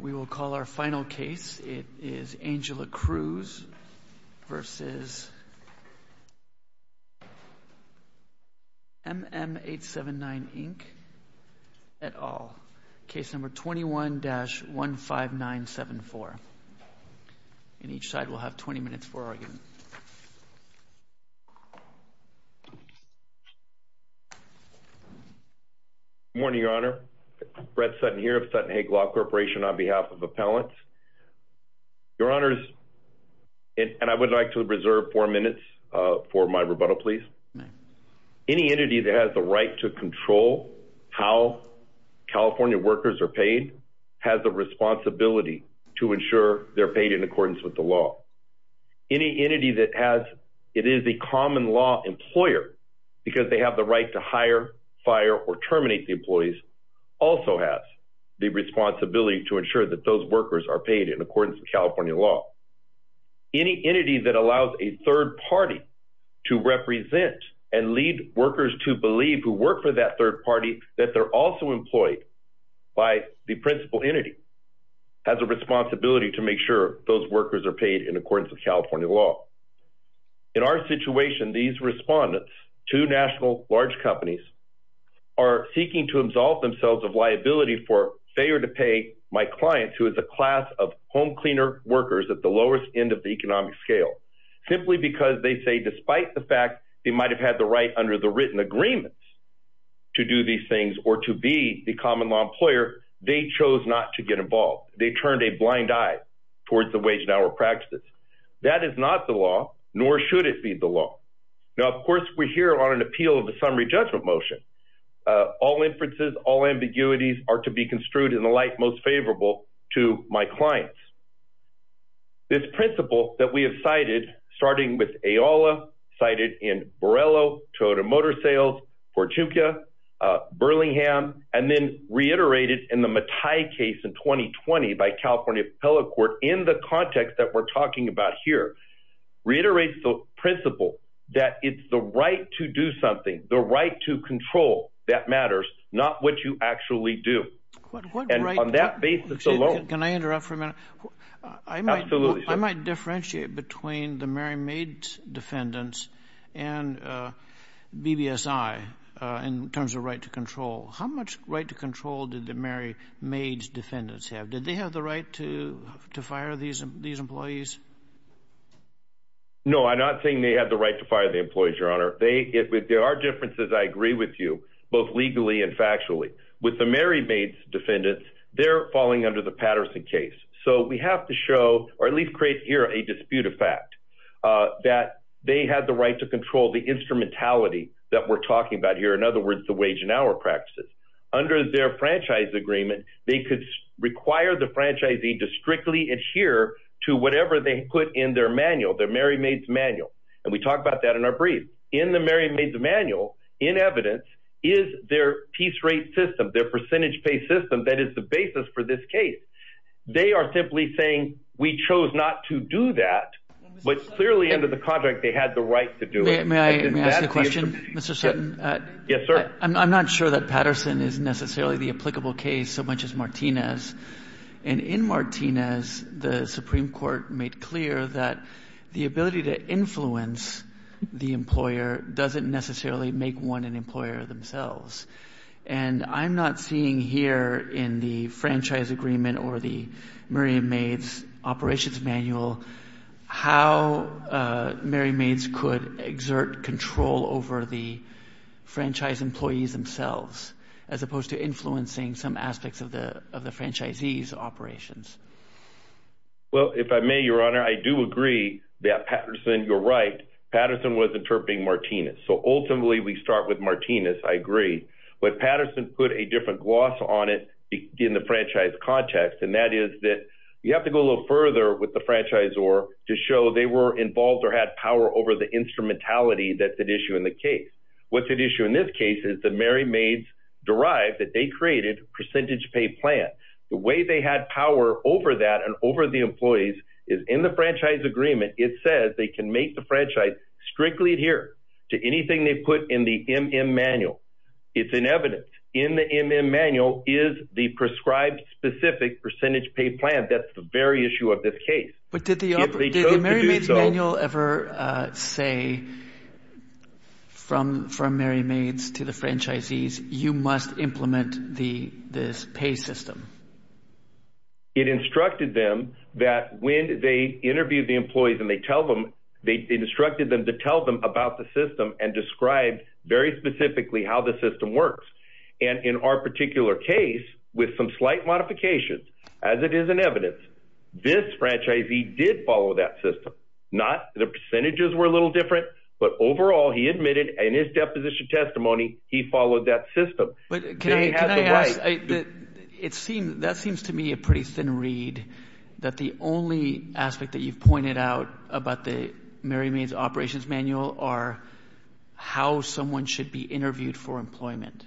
We will call our final case. It is Angela Cruz v. MM 879, Inc. et al. Case number 21-15974. And each side will have 20 minutes for argument. Good morning, Your Honor. Brett Sutton here of Sutton Hague Law Corporation on behalf of Appellants. Your Honors, and I would like to reserve four minutes for my rebuttal, please. Any entity that has the right to control how California workers are paid has a responsibility to ensure they're paid in accordance with the law. Any entity that is a common law employer, because they have the right to hire, fire, or terminate the employees, also has the responsibility to ensure that those workers are paid in accordance with California law. Any entity that allows a third party to represent and lead workers to believe who work for that third party, that they're also employed by the principal entity, has a responsibility to make sure those workers are paid in accordance with California law. In our situation, these respondents, two national large companies, are seeking to absolve themselves of liability for failure to pay my clients, who is a class of home cleaner workers at the lowest end of the economic scale, simply because they say despite the fact they might have had the right under the written agreements to do these things or to be the common law employer, they chose not to get involved. They turned a blind eye towards the wage and hour practices. That is not the law, nor should it be the law. Now, of course, we're here on an appeal of a summary judgment motion. All inferences, all ambiguities are to be construed in the light most favorable to my clients. This principle that we have cited, starting with AOLA, cited in Borrello, Toyota Motor Sales, Portuga, Burlingham, and then reiterated in the Matai case in 2020 by California Appellate Court in the context that we're talking about here, reiterates the principle that it's the right to do something, the right to control that matters, not what you actually do. On that basis alone. Can I interrupt for a minute? Absolutely. I might differentiate between the Mary Maid's defendants and BBSI in terms of right to control. How much right to control did the Mary Maid's defendants have? Did they have the right to fire these employees? No, I'm not saying they had the right to fire the employees, Your Honor. There are differences, I agree with you, both legally and factually. With the Mary Maid's defendants, they're falling under the Patterson case. So we have to show, or at least create here a dispute of fact, that they had the right to control the instrumentality that we're talking about here. In other words, the wage and hour practices. Under their franchise agreement, they could require the franchisee to strictly adhere to whatever they put in their manual, their Mary Maid's manual. And we talk about that in our brief. In the Mary Maid's manual, in evidence, is their piece rate system, their percentage pay system that is the basis for this case. They are simply saying we chose not to do that. But clearly under the contract, they had the right to do it. May I ask a question, Mr. Sutton? Yes, sir. I'm not sure that Patterson is necessarily the applicable case so much as Martinez. And in Martinez, the Supreme Court made clear that the ability to influence the employer doesn't necessarily make one an employer themselves. And I'm not seeing here in the franchise agreement or the Mary Maid's operations manual how Mary Maid's could exert control over the franchise employees themselves. As opposed to influencing some aspects of the franchisee's operations. Well, if I may, Your Honor, I do agree that Patterson, you're right, Patterson was interpreting Martinez. So ultimately we start with Martinez. I agree. But Patterson put a different gloss on it in the franchise context. And that is that you have to go a little further with the franchisor to show they were involved or had power over the instrumentality that's at issue in the case. What's at issue in this case is that Mary Maid's derived that they created a percentage pay plan. The way they had power over that and over the employees is in the franchise agreement. It says they can make the franchise strictly adhere to anything they put in the MM manual. It's in evidence. In the MM manual is the prescribed specific percentage pay plan. That's the very issue of this case. But did the MM manual ever say from Mary Maid's to the franchisees, you must implement this pay system? It instructed them that when they interviewed the employees and they tell them, they instructed them to tell them about the system and describe very specifically how the system works. And in our particular case, with some slight modifications, as it is in evidence, this franchisee did follow that system. Not the percentages were a little different, but overall he admitted in his deposition testimony he followed that system. But can I ask, that seems to me a pretty thin read that the only aspect that you've pointed out about the Mary Maid's operations manual are how someone should be interviewed for employment,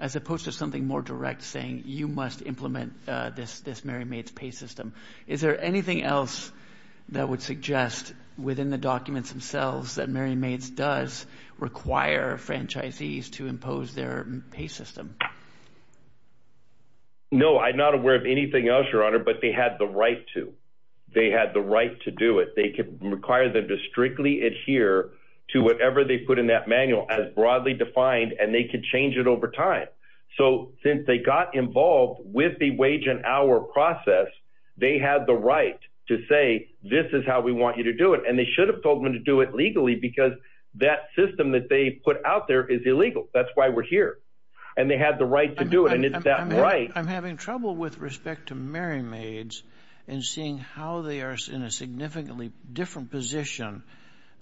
as opposed to something more direct saying you must implement this Mary Maid's pay system. Is there anything else that would suggest within the documents themselves that Mary Maid's does require franchisees to impose their pay system? No, I'm not aware of anything else, Your Honor, but they had the right to. They had the right to do it. They could require them to strictly adhere to whatever they put in that manual as broadly defined, and they could change it over time. So since they got involved with the wage and hour process, they had the right to say, this is how we want you to do it. And they should have told them to do it legally because that system that they put out there is illegal. That's why we're here. And they had the right to do it, and it's that right. I'm having trouble with respect to Mary Maid's and seeing how they are in a significantly different position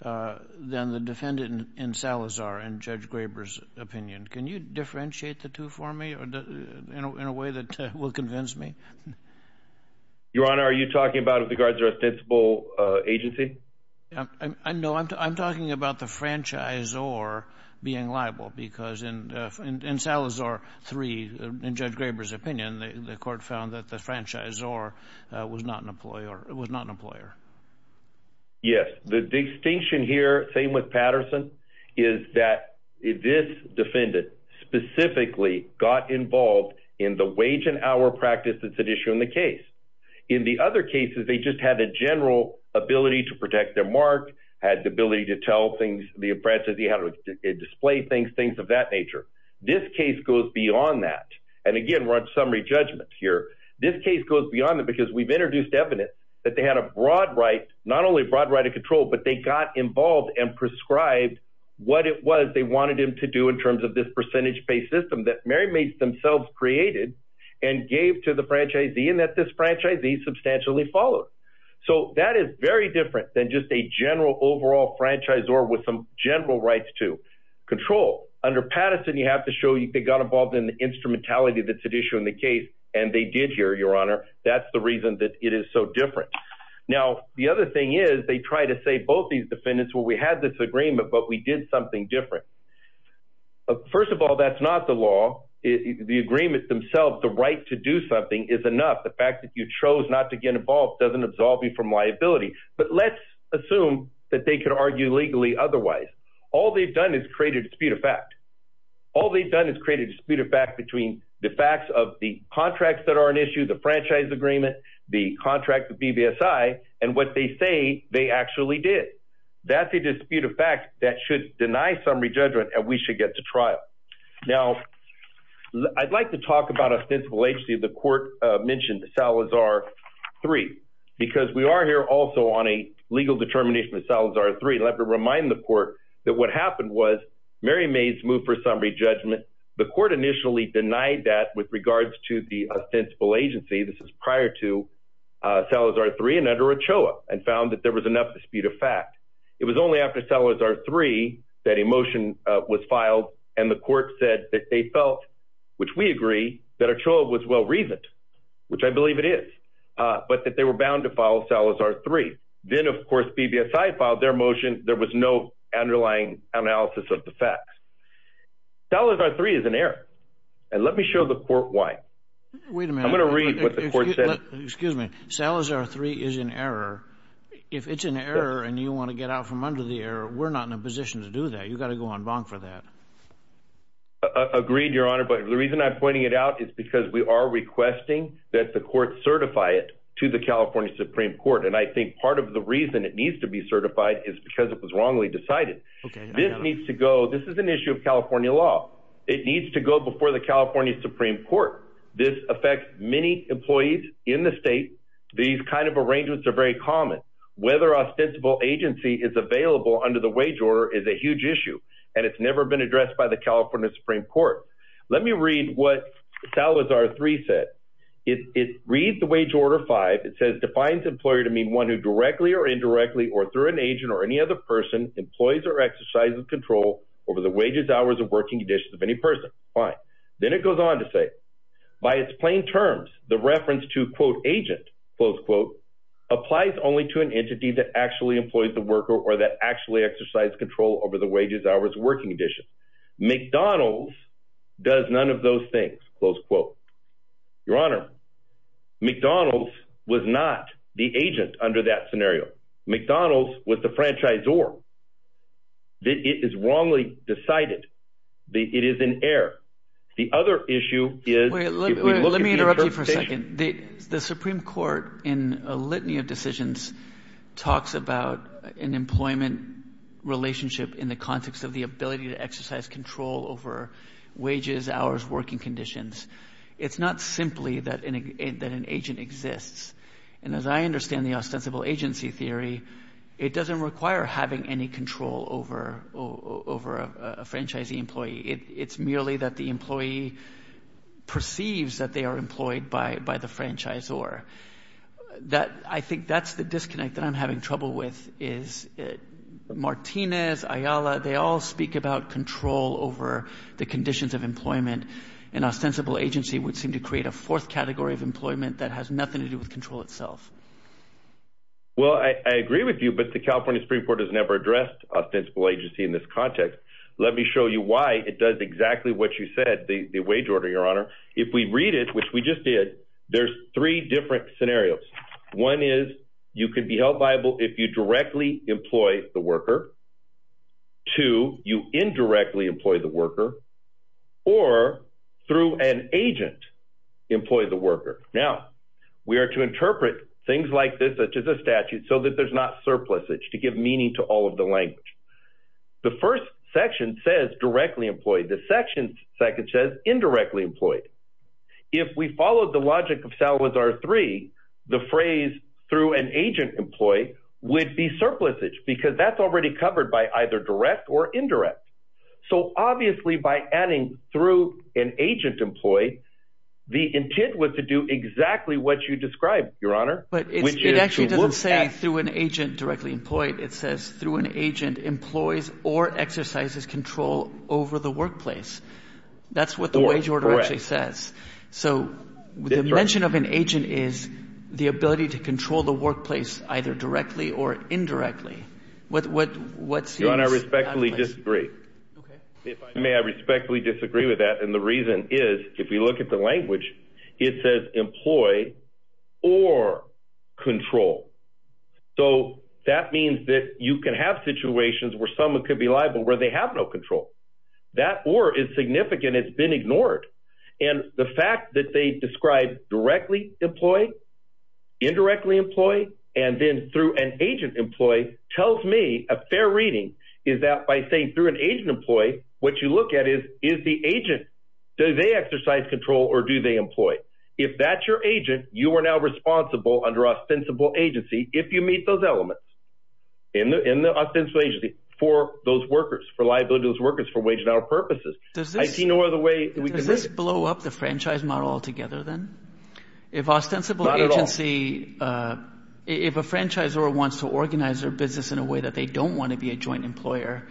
than the defendant in Salazar and Judge Graber's opinion. Can you differentiate the two for me in a way that will convince me? Your Honor, are you talking about with regards to their ostensible agency? No, I'm talking about the franchisor being liable because in Salazar 3, in Judge Graber's opinion, the court found that the franchisor was not an employer. Yes. The distinction here, same with Patterson, is that this defendant specifically got involved in the wage and hour practice that's at issue in the case. In the other cases, they just had a general ability to protect their mark, had the ability to tell things, the apprentice, he had to display things, things of that nature. This case goes beyond that. And again, we're on summary judgment here. This case goes beyond that because we've introduced evidence that they had a broad right, not only a broad right of control, but they got involved and prescribed what it was they wanted him to do in terms of this percentage-based system that Mary Maid's themselves created and gave to the franchisee and that this franchisee substantially followed. So that is very different than just a general overall franchisor with some general rights to control. Under Patterson, you have to show they got involved in the instrumentality that's at issue in the case, and they did here, Your Honor. That's the reason that it is so different. Now, the other thing is they try to say both these defendants, well, we had this agreement, but we did something different. First of all, that's not the law. The agreement themselves, the right to do something, is enough. The fact that you chose not to get involved doesn't absolve you from liability. But let's assume that they could argue legally otherwise. All they've done is create a dispute of fact. All they've done is create a dispute of fact between the facts of the contracts that are an issue, the franchise agreement, the contract with BBSI, and what they say they actually did. That's a dispute of fact that should deny some re-judgment, and we should get to trial. Now, I'd like to talk about ostensible agency. The court mentioned Salazar 3 because we are here also on a legal determination of Salazar 3. I'd like to remind the court that what happened was Mary May's move for some re-judgment, the court initially denied that with regards to the ostensible agency. This is prior to Salazar 3 and under Ochoa and found that there was enough dispute of fact. It was only after Salazar 3 that a motion was filed and the court said that they felt, which we agree, that Ochoa was well-reasoned, which I believe it is, but that they were bound to file Salazar 3. Then, of course, BBSI filed their motion. There was no underlying analysis of the facts. Salazar 3 is an error, and let me show the court why. Wait a minute. I'm going to read what the court said. Excuse me. Salazar 3 is an error. If it's an error and you want to get out from under the error, we're not in a position to do that. You've got to go on bonk for that. Agreed, Your Honor, but the reason I'm pointing it out is because we are requesting that the court certify it to the California Supreme Court, and I think part of the reason it needs to be certified is because it was wrongly decided. This needs to go. This is an issue of California law. It needs to go before the California Supreme Court. This affects many employees in the state. These kind of arrangements are very common. Whether ostensible agency is available under the wage order is a huge issue, and it's never been addressed by the California Supreme Court. Let me read what Salazar 3 said. It reads the wage order 5. It says defines employer to mean one who directly or indirectly or through an agent or any other person employs or exercises control over the wages, hours, or working conditions of any person. Fine. Then it goes on to say, by its plain terms, the reference to, quote, agent, close quote, applies only to an entity that actually employs the worker or that actually exercises control over the wages, hours, or working conditions. McDonald's does none of those things, close quote. Your Honor, McDonald's was not the agent under that scenario. McDonald's was the franchisor. It is wrongly decided. It is in error. The other issue is if we look at the interpretation. Wait, let me interrupt you for a second. The Supreme Court, in a litany of decisions, talks about an employment relationship in the context of the ability to exercise control over wages, hours, working conditions. It's not simply that an agent exists. And as I understand the ostensible agency theory, it doesn't require having any control over a franchisee employee. It's merely that the employee perceives that they are employed by the franchisor. I think that's the disconnect that I'm having trouble with is Martinez, Ayala, they all speak about control over the conditions of employment. An ostensible agency would seem to create a fourth category of employment that has nothing to do with control itself. Well, I agree with you, but the California Supreme Court has never addressed ostensible agency in this context. Let me show you why it does exactly what you said, the wage order, Your Honor. If we read it, which we just did, there's three different scenarios. One is you could be held viable if you directly employ the worker. Two, you indirectly employ the worker. Or through an agent, employ the worker. Now, we are to interpret things like this, such as a statute, so that there's not surplusage to give meaning to all of the language. The first section says directly employed. The second section says indirectly employed. If we followed the logic of Salazar 3, the phrase through an agent employee would be surplusage because that's already covered by either direct or indirect. So obviously by adding through an agent employee, the intent was to do exactly what you described, Your Honor. But it actually doesn't say through an agent directly employed. It says through an agent employs or exercises control over the workplace. That's what the wage order actually says. So the mention of an agent is the ability to control the workplace either directly or indirectly. Your Honor, I respectfully disagree. May I respectfully disagree with that? And the reason is if we look at the language, it says employ or control. So that means that you can have situations where someone could be liable where they have no control. That or is significant. It's been ignored. And the fact that they describe directly employed, indirectly employed, and then through an agent employee tells me a fair reading is that by saying through an agent employee, what you look at is, is the agent, do they exercise control or do they employ? If that's your agent, you are now responsible under ostensible agency if you meet those elements in the ostensible agency for those workers, for liability to those workers for wage and hour purposes. I see no other way that we can break it. Does this blow up the franchise model altogether then? Not at all. If a franchisor wants to organize their business in a way that they don't want to be a joint employer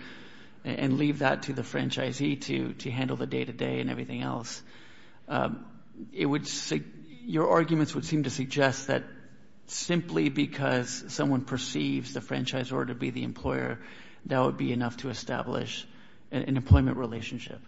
and leave that to the franchisee to handle the day-to-day and everything else, your arguments would seem to suggest that simply because someone perceives the franchisor to be the employer, that would be enough to establish an employment relationship.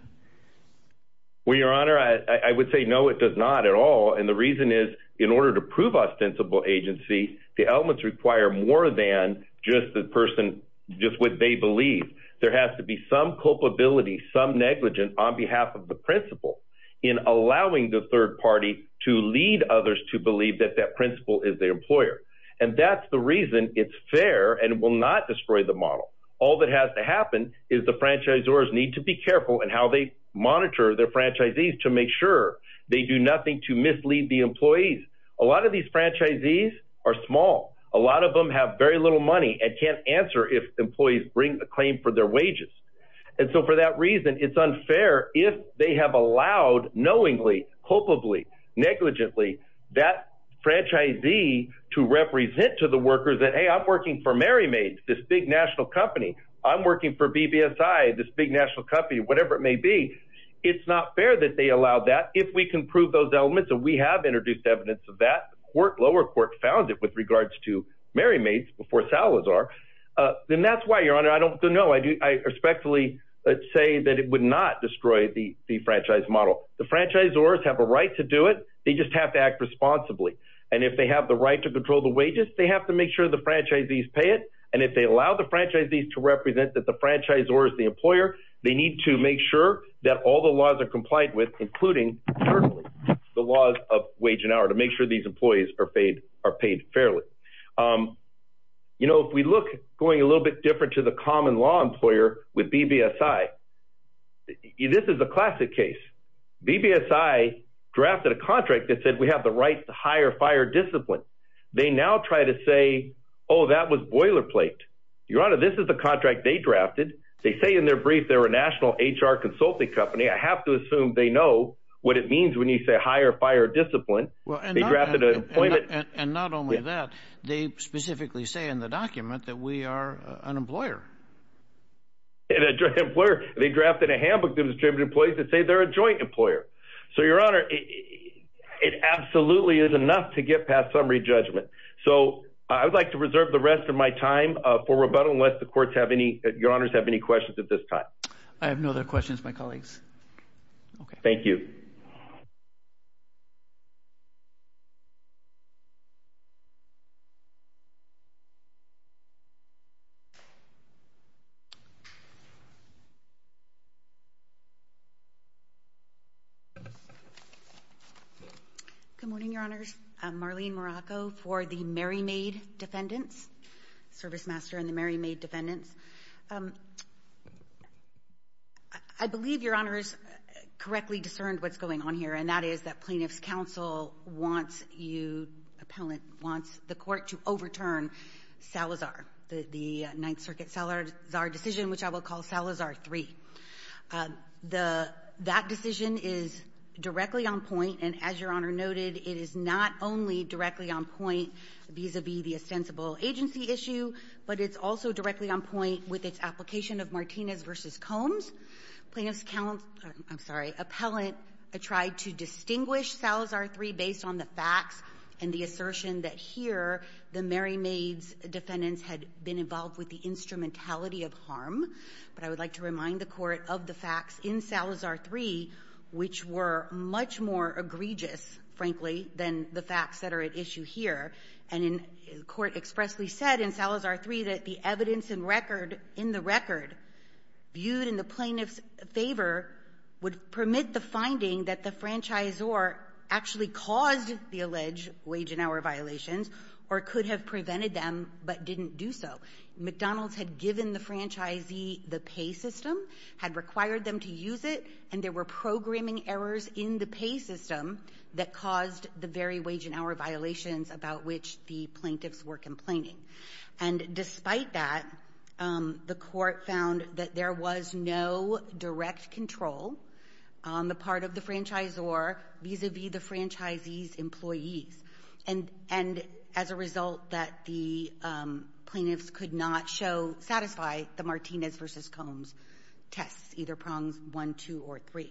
Well, Your Honor, I would say no, it does not at all. And the reason is in order to prove ostensible agency, the elements require more than just the person, just what they believe. There has to be some culpability, some negligence on behalf of the principal in allowing the third party to lead others to believe that that principal is the employer. And that's the reason it's fair and will not destroy the model. All that has to happen is the franchisors need to be careful in how they monitor their franchisees to make sure they do nothing to mislead the employees. A lot of these franchisees are small. A lot of them have very little money and can't answer if employees bring a claim for their wages. And so for that reason, it's unfair if they have allowed knowingly, culpably, negligently that franchisee to represent to the workers that, hey, I'm working for Mary Maid, this big national company. I'm working for BBSI, this big national company, whatever it may be. It's not fair that they allow that if we can prove those elements and we have introduced evidence of that. The lower court found it with regards to Mary Maid before Salazar. And that's why, Your Honor, I don't know. I respectfully say that it would not destroy the franchise model. The franchisors have a right to do it. They just have to act responsibly. And if they have the right to control the wages, they have to make sure the franchisees pay it. And if they allow the franchisees to represent that the franchisor is the employer, they need to make sure that all the laws are compliant with, including, certainly, the laws of wage and hour, to make sure these employees are paid fairly. You know, if we look going a little bit different to the common law employer with BBSI, this is a classic case. BBSI drafted a contract that said we have the right to hire fire discipline. They now try to say, oh, that was boilerplate. Your Honor, this is the contract they drafted. They say in their brief they're a national HR consulting company. I have to assume they know what it means when you say hire fire discipline. They drafted an employment. And not only that, they specifically say in the document that we are an employer. And a joint employer. They drafted a handbook that was given to employees that say they're a joint employer. So, Your Honor, it absolutely is enough to get past summary judgment. So I would like to reserve the rest of my time for rebuttal unless the courts have any – Your Honors have any questions at this time. I have no other questions, my colleagues. Okay. Thank you. Good morning, Your Honors. I'm Marlene Morocco for the Merrymaid Defendants, Service Master and the Merrymaid Defendants. I believe Your Honors correctly discerned what's going on here, and that is that plaintiff's counsel wants you – appellant wants the court to overturn Salazar, the Ninth Circuit Salazar decision, which I will call Salazar 3. That decision is directly on point, and as Your Honor noted, it is not only directly on point vis-à-vis the ostensible agency issue, but it's also directly on point with its application of Martinez v. Combs. Plaintiff's counsel – I'm sorry – appellant tried to distinguish Salazar 3 based on the facts and the assertion that here the Merrymaid's defendants had been involved with the instrumentality of harm. But I would like to remind the court of the facts in Salazar 3, which were much more egregious, frankly, than the facts that are at issue here. And the court expressly said in Salazar 3 that the evidence in the record viewed in the plaintiff's favor would permit the finding that the franchisor actually caused the alleged wage and hour violations or could have prevented them but didn't do so. McDonald's had given the franchisee the pay system, had required them to use it, and there were programming errors in the pay system that caused the very wage and hour violations about which the plaintiffs were complaining. And despite that, the court found that there was no direct control on the part of the franchisor vis-à-vis the franchisee's employees, and as a result that the plaintiffs could not satisfy the Martinez v. Combs tests, either prongs 1, 2, or 3.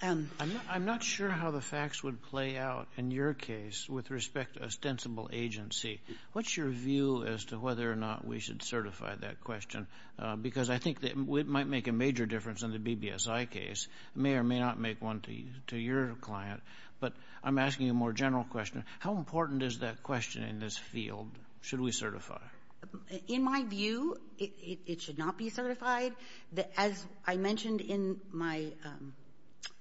I'm not sure how the facts would play out in your case with respect to ostensible agency. What's your view as to whether or not we should certify that question? Because I think it might make a major difference in the BBSI case. It may or may not make one to your client. But I'm asking a more general question. How important is that question in this field? Should we certify? In my view, it should not be certified. As I mentioned in my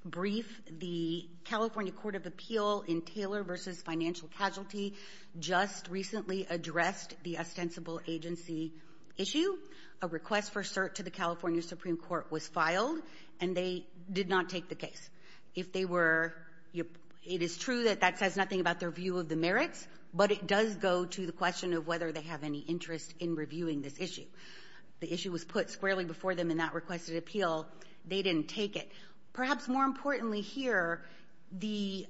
brief, the California Court of Appeal in Taylor v. Financial Casualty just recently addressed the ostensible agency issue. A request for cert to the California Supreme Court was filed, and they did not take the case. If they were — it is true that that says nothing about their view of the merits, but it does go to the question of whether they have any interest in reviewing this issue. The issue was put squarely before them in that requested appeal. They didn't take it. Perhaps more importantly here, the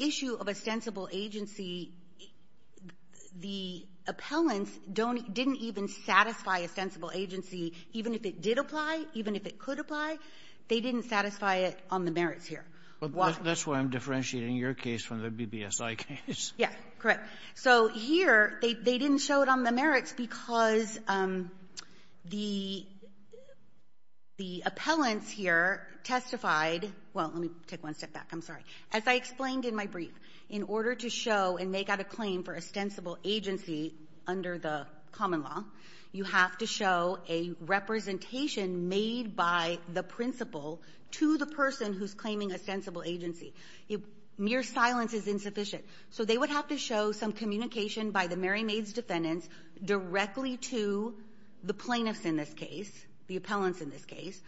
issue of ostensible agency, the appellants didn't even satisfy ostensible agency, even if it did apply, even if it could apply. They didn't satisfy it on the merits here. Why? That's why I'm differentiating your case from the BBSI case. Yes. Correct. So here, they didn't show it on the merits because the appellants here testified — well, let me take one step back. I'm sorry. As I explained in my brief, in order to show and make out a claim for ostensible agency under the common law, you have to show a representation made by the principal to the person who's claiming ostensible agency. Mere silence is insufficient. So they would have to show some communication by the Mary Maids defendants directly to the plaintiffs in this case, the appellants in this case,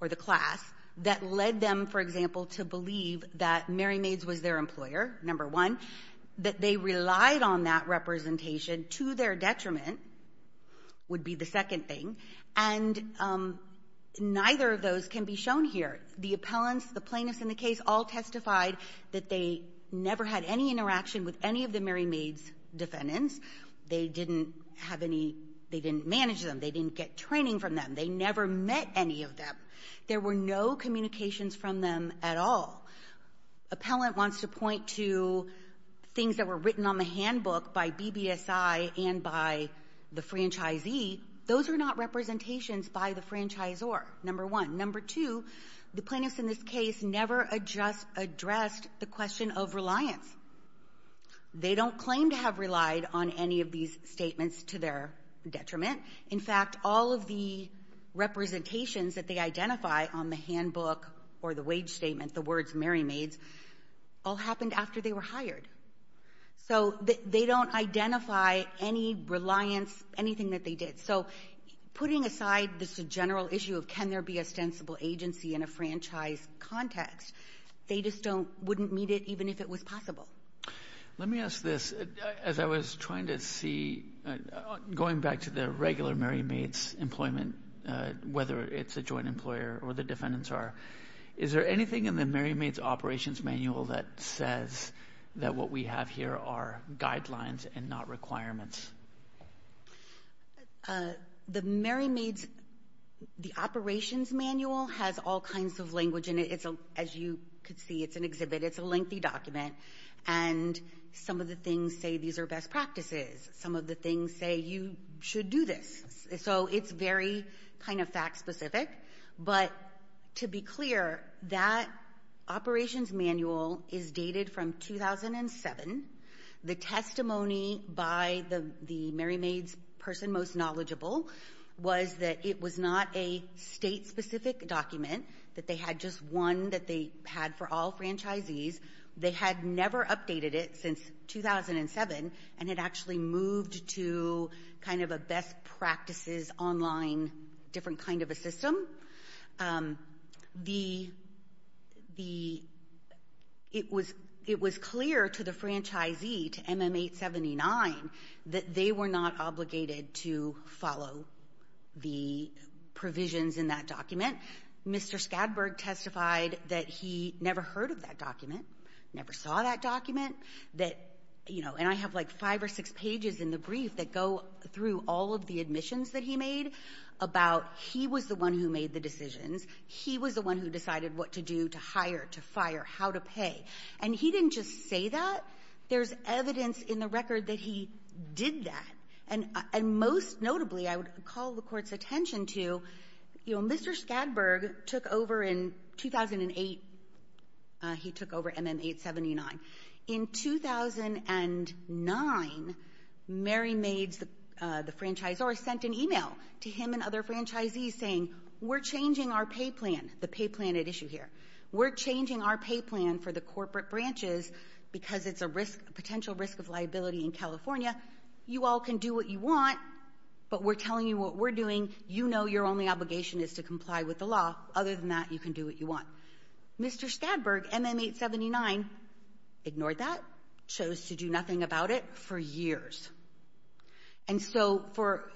or the class that led them, for example, to believe that Mary Maids was their employer, number one, that they relied on that representation to their detriment would be the second thing. And neither of those can be shown here. The appellants, the plaintiffs in the case all testified that they never had any interaction with any of the Mary Maids defendants. They didn't manage them. They didn't get training from them. They never met any of them. There were no communications from them at all. Appellant wants to point to things that were written on the handbook by BBSI and by the franchisee. Those are not representations by the franchisor, number one. Number two, the plaintiffs in this case never addressed the question of reliance. They don't claim to have relied on any of these statements to their detriment. In fact, all of the representations that they identify on the handbook or the wage statement, the words Mary Maids, all happened after they were hired. So they don't identify any reliance, anything that they did. So putting aside this general issue of can there be ostensible agency in a franchise context, they just wouldn't meet it even if it was possible. Let me ask this. As I was trying to see, going back to the regular Mary Maids employment, whether it's a joint employer or the defendants are, is there anything in the Mary Maids operations manual that says that what we have here are guidelines and not requirements? The Mary Maids operations manual has all kinds of language in it. As you can see, it's an exhibit. It's a lengthy document, and some of the things say these are best practices. Some of the things say you should do this. So it's very kind of fact-specific. But to be clear, that operations manual is dated from 2007. The testimony by the Mary Maids person most knowledgeable was that it was not a state-specific document, that they had just one that they had for all franchisees. They had never updated it since 2007, and it actually moved to kind of a best practices online different kind of a system. It was clear to the franchisee, to MM879, that they were not obligated to follow the provisions in that document. Mr. Skadberg testified that he never heard of that document, never saw that document. And I have like five or six pages in the brief that go through all of the admissions that he made about he was the one who made the decisions. He was the one who decided what to do to hire, to fire, how to pay. And he didn't just say that. There's evidence in the record that he did that. And most notably, I would call the court's attention to, Mr. Skadberg took over in 2008. He took over MM879. In 2009, Mary Mades, the franchisor, sent an email to him and other franchisees saying, we're changing our pay plan, the pay plan at issue here. We're changing our pay plan for the corporate branches because it's a potential risk of liability in California. You all can do what you want, but we're telling you what we're doing. You know your only obligation is to comply with the law. Other than that, you can do what you want. Mr. Skadberg, MM879, ignored that, chose to do nothing about it for years. And so for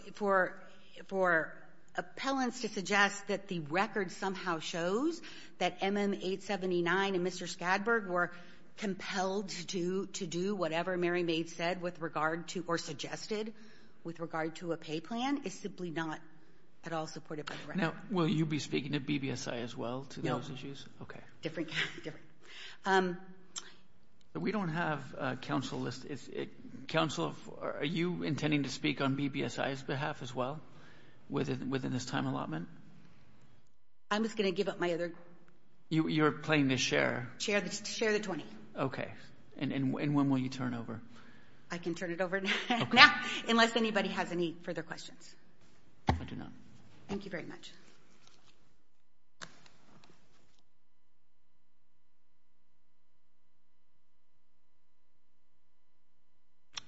appellants to suggest that the record somehow shows that MM879 and Mr. Skadberg were compelled to do whatever Mary Mades said with regard to or suggested with regard to a pay plan is simply not at all supported by the record. Now, will you be speaking at BBSI as well to those issues? No. Okay. Different, different. We don't have a counsel list. Counsel, are you intending to speak on BBSI's behalf as well within this time allotment? I'm just going to give up my other. You're playing the share. Share the 20. Okay. And when will you turn over? I can turn it over now, unless anybody has any further questions. I do not. Thank you very much.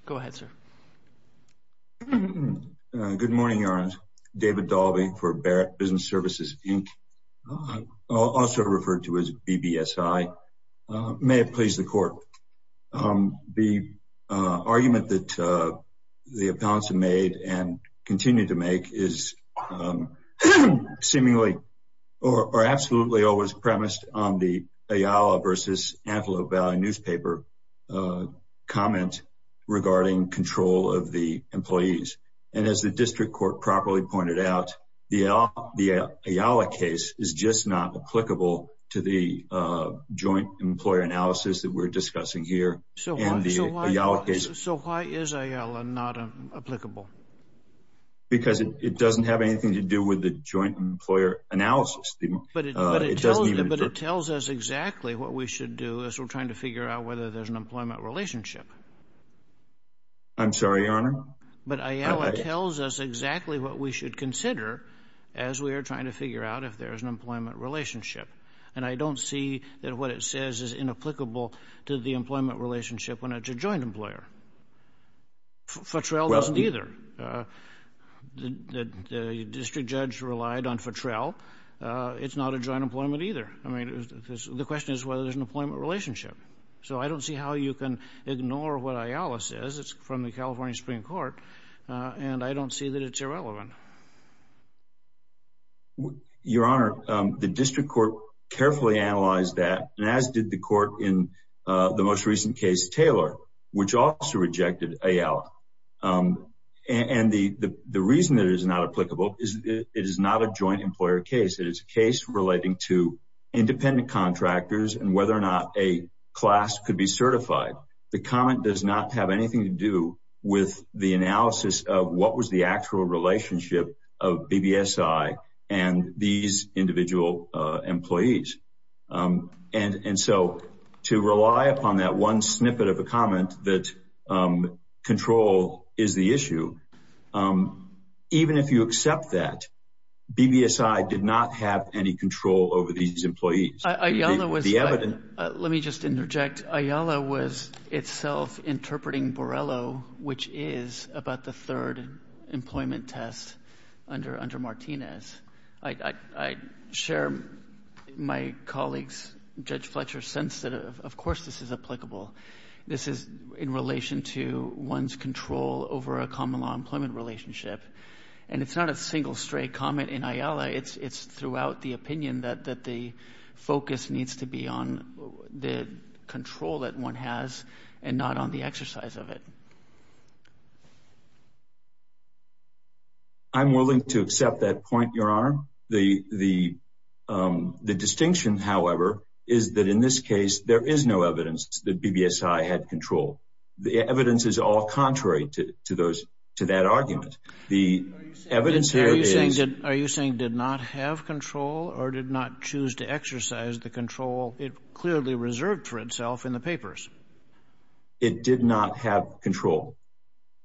Go ahead, sir. Good morning, Your Honor. David Dalby for Barrett Business Services, Inc., also referred to as BBSI. May it please the Court. The argument that the appellants have made and continue to make is seemingly or absolutely always premised on the Ayala versus Antelope Valley newspaper comment regarding control of the employees. And as the district court properly pointed out, the Ayala case is just not applicable to the joint employer analysis that we're discussing here and the Ayala case. So why is Ayala not applicable? Because it doesn't have anything to do with the joint employer analysis. But it tells us exactly what we should do as we're trying to figure out whether there's an employment relationship. I'm sorry, Your Honor. But Ayala tells us exactly what we should consider as we are trying to figure out if there's an employment relationship. And I don't see that what it says is inapplicable to the employment relationship when it's a joint employer. Fotrell doesn't either. The district judge relied on Fotrell. It's not a joint employment either. I mean, the question is whether there's an employment relationship. So I don't see how you can ignore what Ayala says. It's from the California Supreme Court, and I don't see that it's irrelevant. Your Honor, the district court carefully analyzed that, and as did the court in the most recent case, Taylor, which also rejected Ayala. And the reason that it is not applicable is it is not a joint employer case. It is a case relating to independent contractors and whether or not a class could be certified. The comment does not have anything to do with the analysis of what was the actual relationship of BBSI and these individual employees. And so to rely upon that one snippet of a comment that control is the issue, even if you accept that, BBSI did not have any control over these employees. Ayala was the evidence. Let me just interject. Ayala was itself interpreting Borrello, which is about the third employment test under Martinez. I share my colleague's, Judge Fletcher's, sense that, of course, this is applicable. This is in relation to one's control over a common law employment relationship. And it's not a single stray comment in Ayala. It's throughout the opinion that the focus needs to be on the control that one has and not on the exercise of it. I'm willing to accept that point, Your Honor. The distinction, however, is that in this case there is no evidence that BBSI had control. The evidence is all contrary to that argument. Are you saying it did not have control or did not choose to exercise the control it clearly reserved for itself in the papers? It did not have control.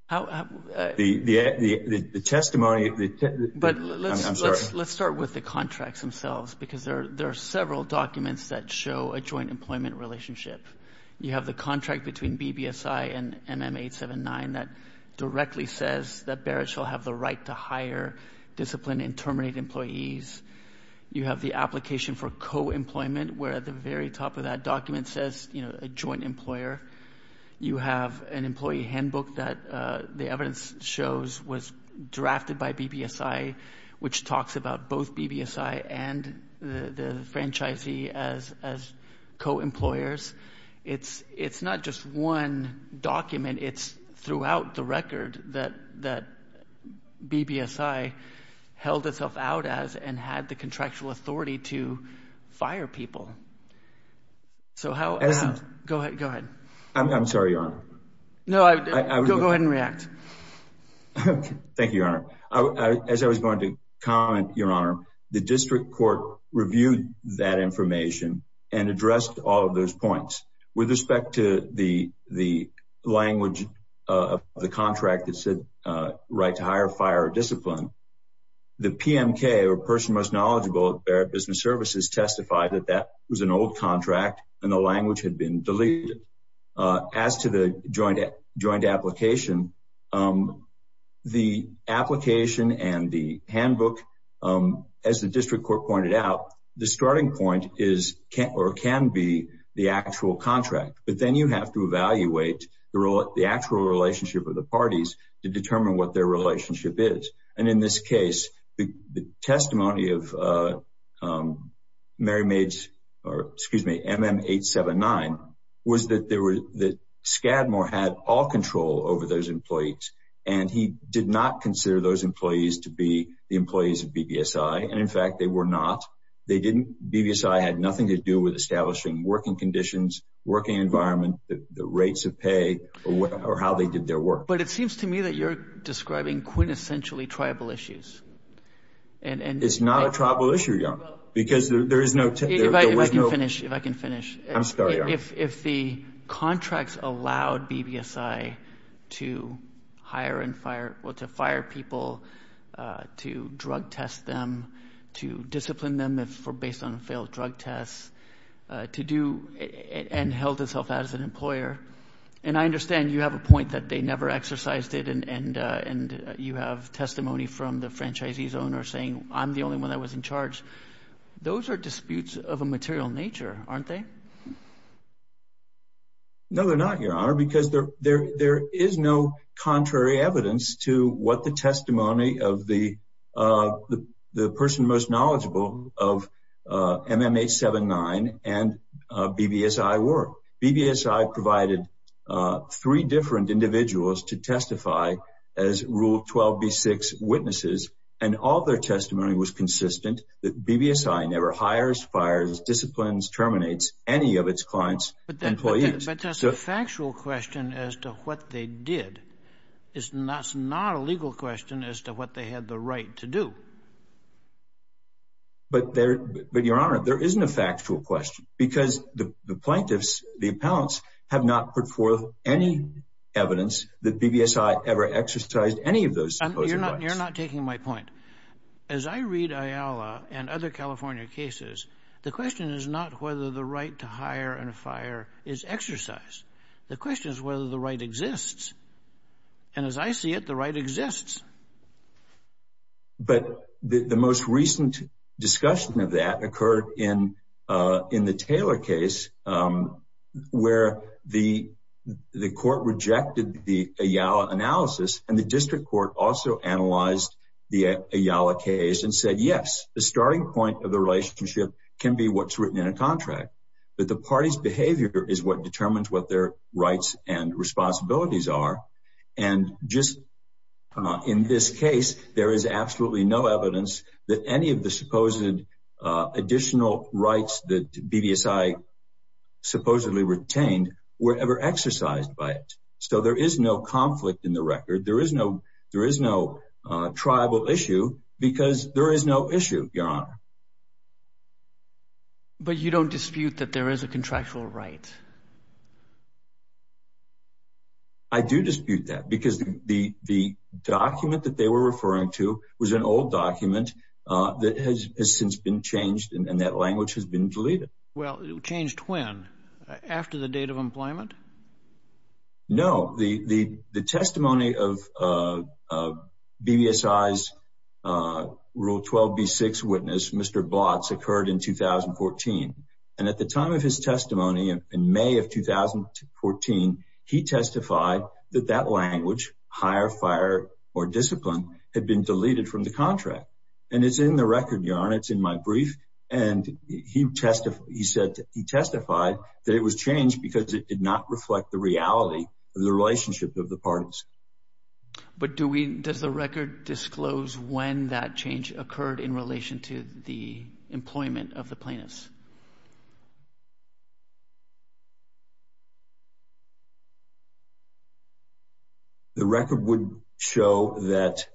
The testimony of the testimony. But let's start with the contracts themselves because there are several documents that show a joint employment relationship. You have the contract between BBSI and MM879 that directly says that Barrett shall have the right to hire, discipline, and terminate employees. You have the application for co-employment where at the very top of that document says a joint employer. You have an employee handbook that the evidence shows was drafted by BBSI, which talks about both BBSI and the franchisee as co-employers. It's not just one document. It's throughout the record that BBSI held itself out as and had the contractual authority to fire people. Go ahead. I'm sorry, Your Honor. Go ahead and react. Thank you, Your Honor. As I was going to comment, Your Honor, the district court reviewed that information and addressed all of those points. With respect to the language of the contract that said right to hire, fire, or discipline, the PMK or person most knowledgeable at Barrett Business Services testified that that was an old contract and the language had been deleted. As to the joint application, the application and the handbook, as the district court pointed out, the starting point can be the actual contract. But then you have to evaluate the actual relationship of the parties to determine what their relationship is. In this case, the testimony of MM879 was that Scadmore had all control over those employees, and he did not consider those employees to be the employees of BBSI. In fact, they were not. BBSI had nothing to do with establishing working conditions, working environment, the rates of pay, or how they did their work. But it seems to me that you're describing quintessentially tribal issues. It's not a tribal issue, Your Honor, because there is no – If I can finish, if I can finish. I'm sorry, Your Honor. If the contracts allowed BBSI to hire and fire – well, to fire people, to drug test them, to discipline them based on failed drug tests, to do – and held itself out as an employer. And I understand you have a point that they never exercised it, and you have testimony from the franchisee's owner saying, I'm the only one that was in charge. Those are disputes of a material nature, aren't they? No, they're not, Your Honor, because there is no contrary evidence to what the testimony of the person most knowledgeable of MM879 and BBSI were. BBSI provided three different individuals to testify as Rule 12b-6 witnesses, and all their testimony was consistent that BBSI never hires, fires, disciplines, terminates any of its clients' employees. But that's a factual question as to what they did. It's not a legal question as to what they had the right to do. But, Your Honor, there isn't a factual question because the plaintiffs, the appellants, have not put forth any evidence that BBSI ever exercised any of those rights. You're not taking my point. As I read Ayala and other California cases, the question is not whether the right to hire and fire is exercised. The question is whether the right exists. And as I see it, the right exists. But the most recent discussion of that occurred in the Taylor case where the court rejected the Ayala analysis, and the district court also analyzed the Ayala case and said, yes, the starting point of the relationship can be what's written in a contract, but the party's behavior is what determines what their rights and responsibilities are. And just in this case, there is absolutely no evidence that any of the supposed additional rights that BBSI supposedly retained were ever exercised by it. So there is no conflict in the record. There is no tribal issue because there is no issue, Your Honor. But you don't dispute that there is a contractual right? I do dispute that because the document that they were referring to was an old document that has since been changed and that language has been deleted. Well, it changed when? After the date of employment? No. The testimony of BBSI's Rule 12b-6 witness, Mr. Blotz, occurred in 2014. And at the time of his testimony in May of 2014, he testified that that language, hire, fire, or discipline, had been deleted from the contract. And it's in the record, Your Honor. It's in my brief. And he testified that it was changed because it did not reflect the reality of the relationship of the parties. But does the record disclose when that change occurred in relation to the employment of the plaintiffs? The record would show that,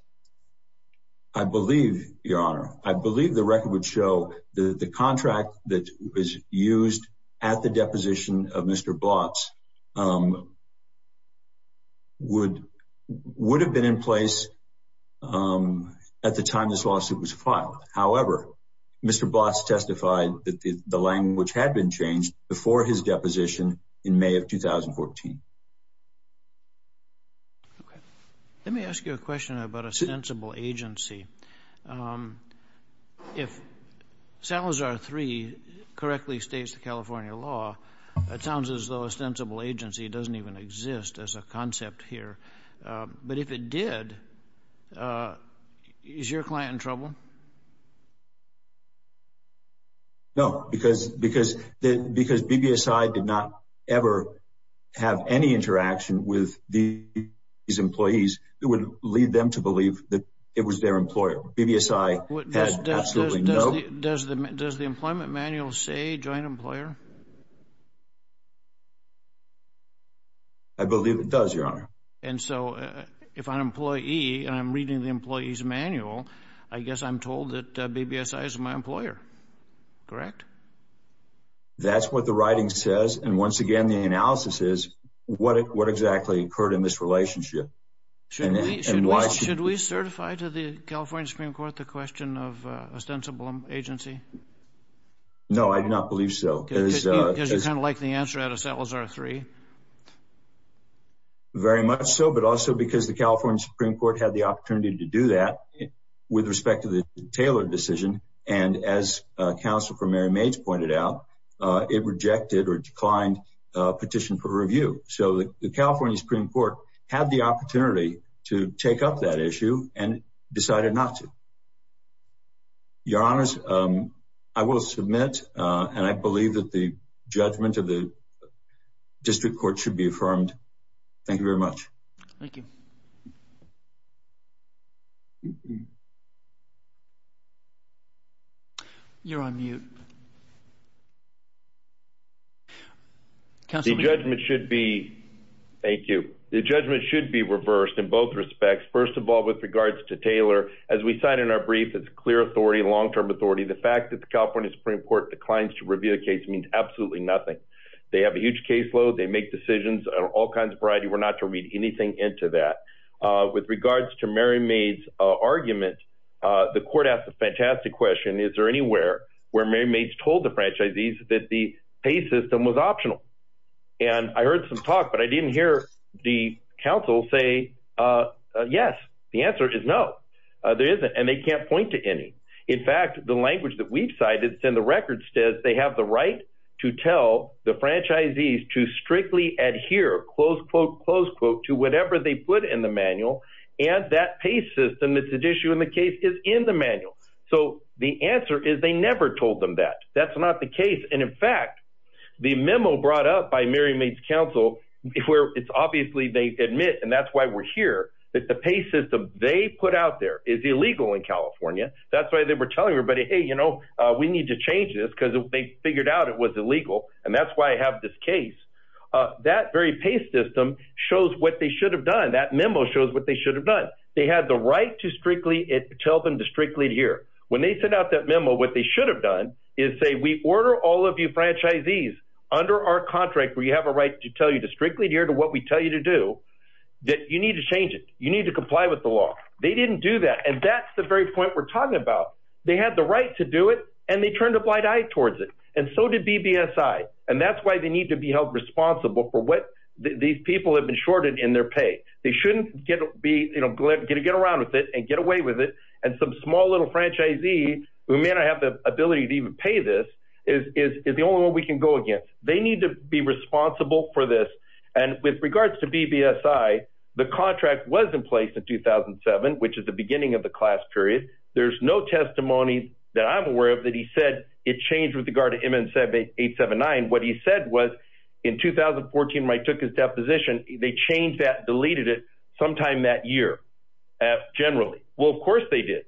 I believe, Your Honor, I believe the record would show that the contract that was used at the deposition of Mr. Blotz would have been in place at the time this lawsuit was filed. However, Mr. Blotz testified that the language had been changed before his deposition in May of 2014. Okay. Let me ask you a question about ostensible agency. If Salazar 3 correctly states the California law, it sounds as though ostensible agency doesn't even exist as a concept here. But if it did, is your client in trouble? No, because BBSI did not ever have any interaction with these employees that would lead them to believe that it was their employer. BBSI had absolutely no— Does the employment manual say joint employer? And so if I'm an employee and I'm reading the employee's manual, I guess I'm told that BBSI is my employer. Correct? That's what the writing says. And once again, the analysis is what exactly occurred in this relationship. Should we certify to the California Supreme Court the question of ostensible agency? No, I do not believe so. Because you kind of like the answer out of Salazar 3. Very much so, but also because the California Supreme Court had the opportunity to do that with respect to the Taylor decision. And as counsel for Mary Mage pointed out, it rejected or declined a petition for review. So the California Supreme Court had the opportunity to take up that issue and decided not to. Your Honors, I will submit, and I believe that the judgment of the district court should be affirmed. Thank you very much. Thank you. You're on mute. The judgment should be—thank you. The judgment should be reversed in both respects. First of all, with regards to Taylor, as we said in our brief, it's clear authority, long-term authority. The fact that the California Supreme Court declines to review a case means absolutely nothing. They have a huge caseload. They make decisions on all kinds of variety. We're not to read anything into that. With regards to Mary Mage's argument, the court asked a fantastic question. Is there anywhere where Mary Mage told the franchisees that the pay system was optional? And I heard some talk, but I didn't hear the counsel say yes. The answer is no. There isn't, and they can't point to any. In fact, the language that we've cited and the record says they have the right to tell the franchisees to strictly adhere, close quote, close quote, to whatever they put in the manual, and that pay system that's at issue in the case is in the manual. So the answer is they never told them that. That's not the case. And, in fact, the memo brought up by Mary Mage's counsel where it's obviously they admit, and that's why we're here, that the pay system they put out there is illegal in California. That's why they were telling everybody, hey, you know, we need to change this because they figured out it was illegal, and that's why I have this case. That very pay system shows what they should have done. That memo shows what they should have done. They had the right to strictly tell them to strictly adhere. When they sent out that memo, what they should have done is say we order all of you franchisees under our contract where you have a right to tell you to strictly adhere to what we tell you to do that you need to change it. You need to comply with the law. They didn't do that, and that's the very point we're talking about. They had the right to do it, and they turned a blind eye towards it, and so did BBSI, and that's why they need to be held responsible for what these people have been shorted in their pay. They shouldn't get around with it and get away with it, and some small little franchisee who may not have the ability to even pay this is the only one we can go against. They need to be responsible for this, and with regards to BBSI, the contract was in place in 2007, which is the beginning of the class period. There's no testimony that I'm aware of that he said it changed with regard to MN-879. What he said was in 2014 when I took his deposition, they changed that, deleted it sometime that year generally. Well, of course they did.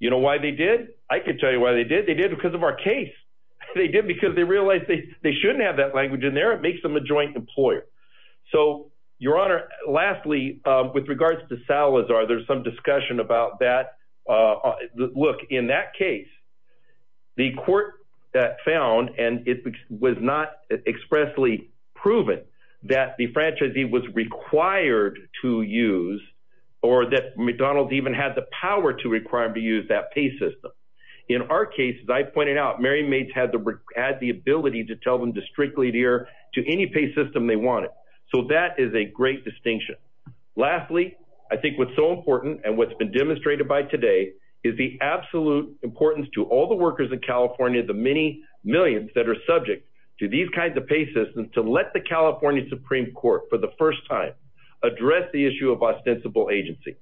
You know why they did? I can tell you why they did. They did because of our case. They did because they realized they shouldn't have that language in there. It makes them a joint employer. So, Your Honor, lastly, with regards to Salazar, there's some discussion about that. Look, in that case, the court found, and it was not expressly proven, that the franchisee was required to use or that McDonald's even had the power to require him to use that pay system. In our case, as I pointed out, Mary Mates had the ability to tell them to strictly adhere to any pay system they wanted. So that is a great distinction. Lastly, I think what's so important and what's been demonstrated by today is the absolute importance to all the workers in California, the many millions that are subject to these kinds of pay systems, to let the California Supreme Court for the first time address the issue of ostensible agency.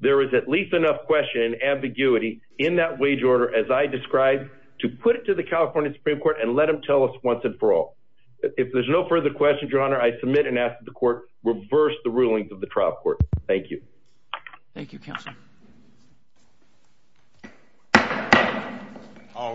There is at least enough question and ambiguity in that wage order, as I described, to put it to the California Supreme Court and let them tell us once and for all. If there's no further questions, Your Honor, I submit and ask that the court reverse the rulings of the trial court. Thank you. Thank you, Counsel. All rise.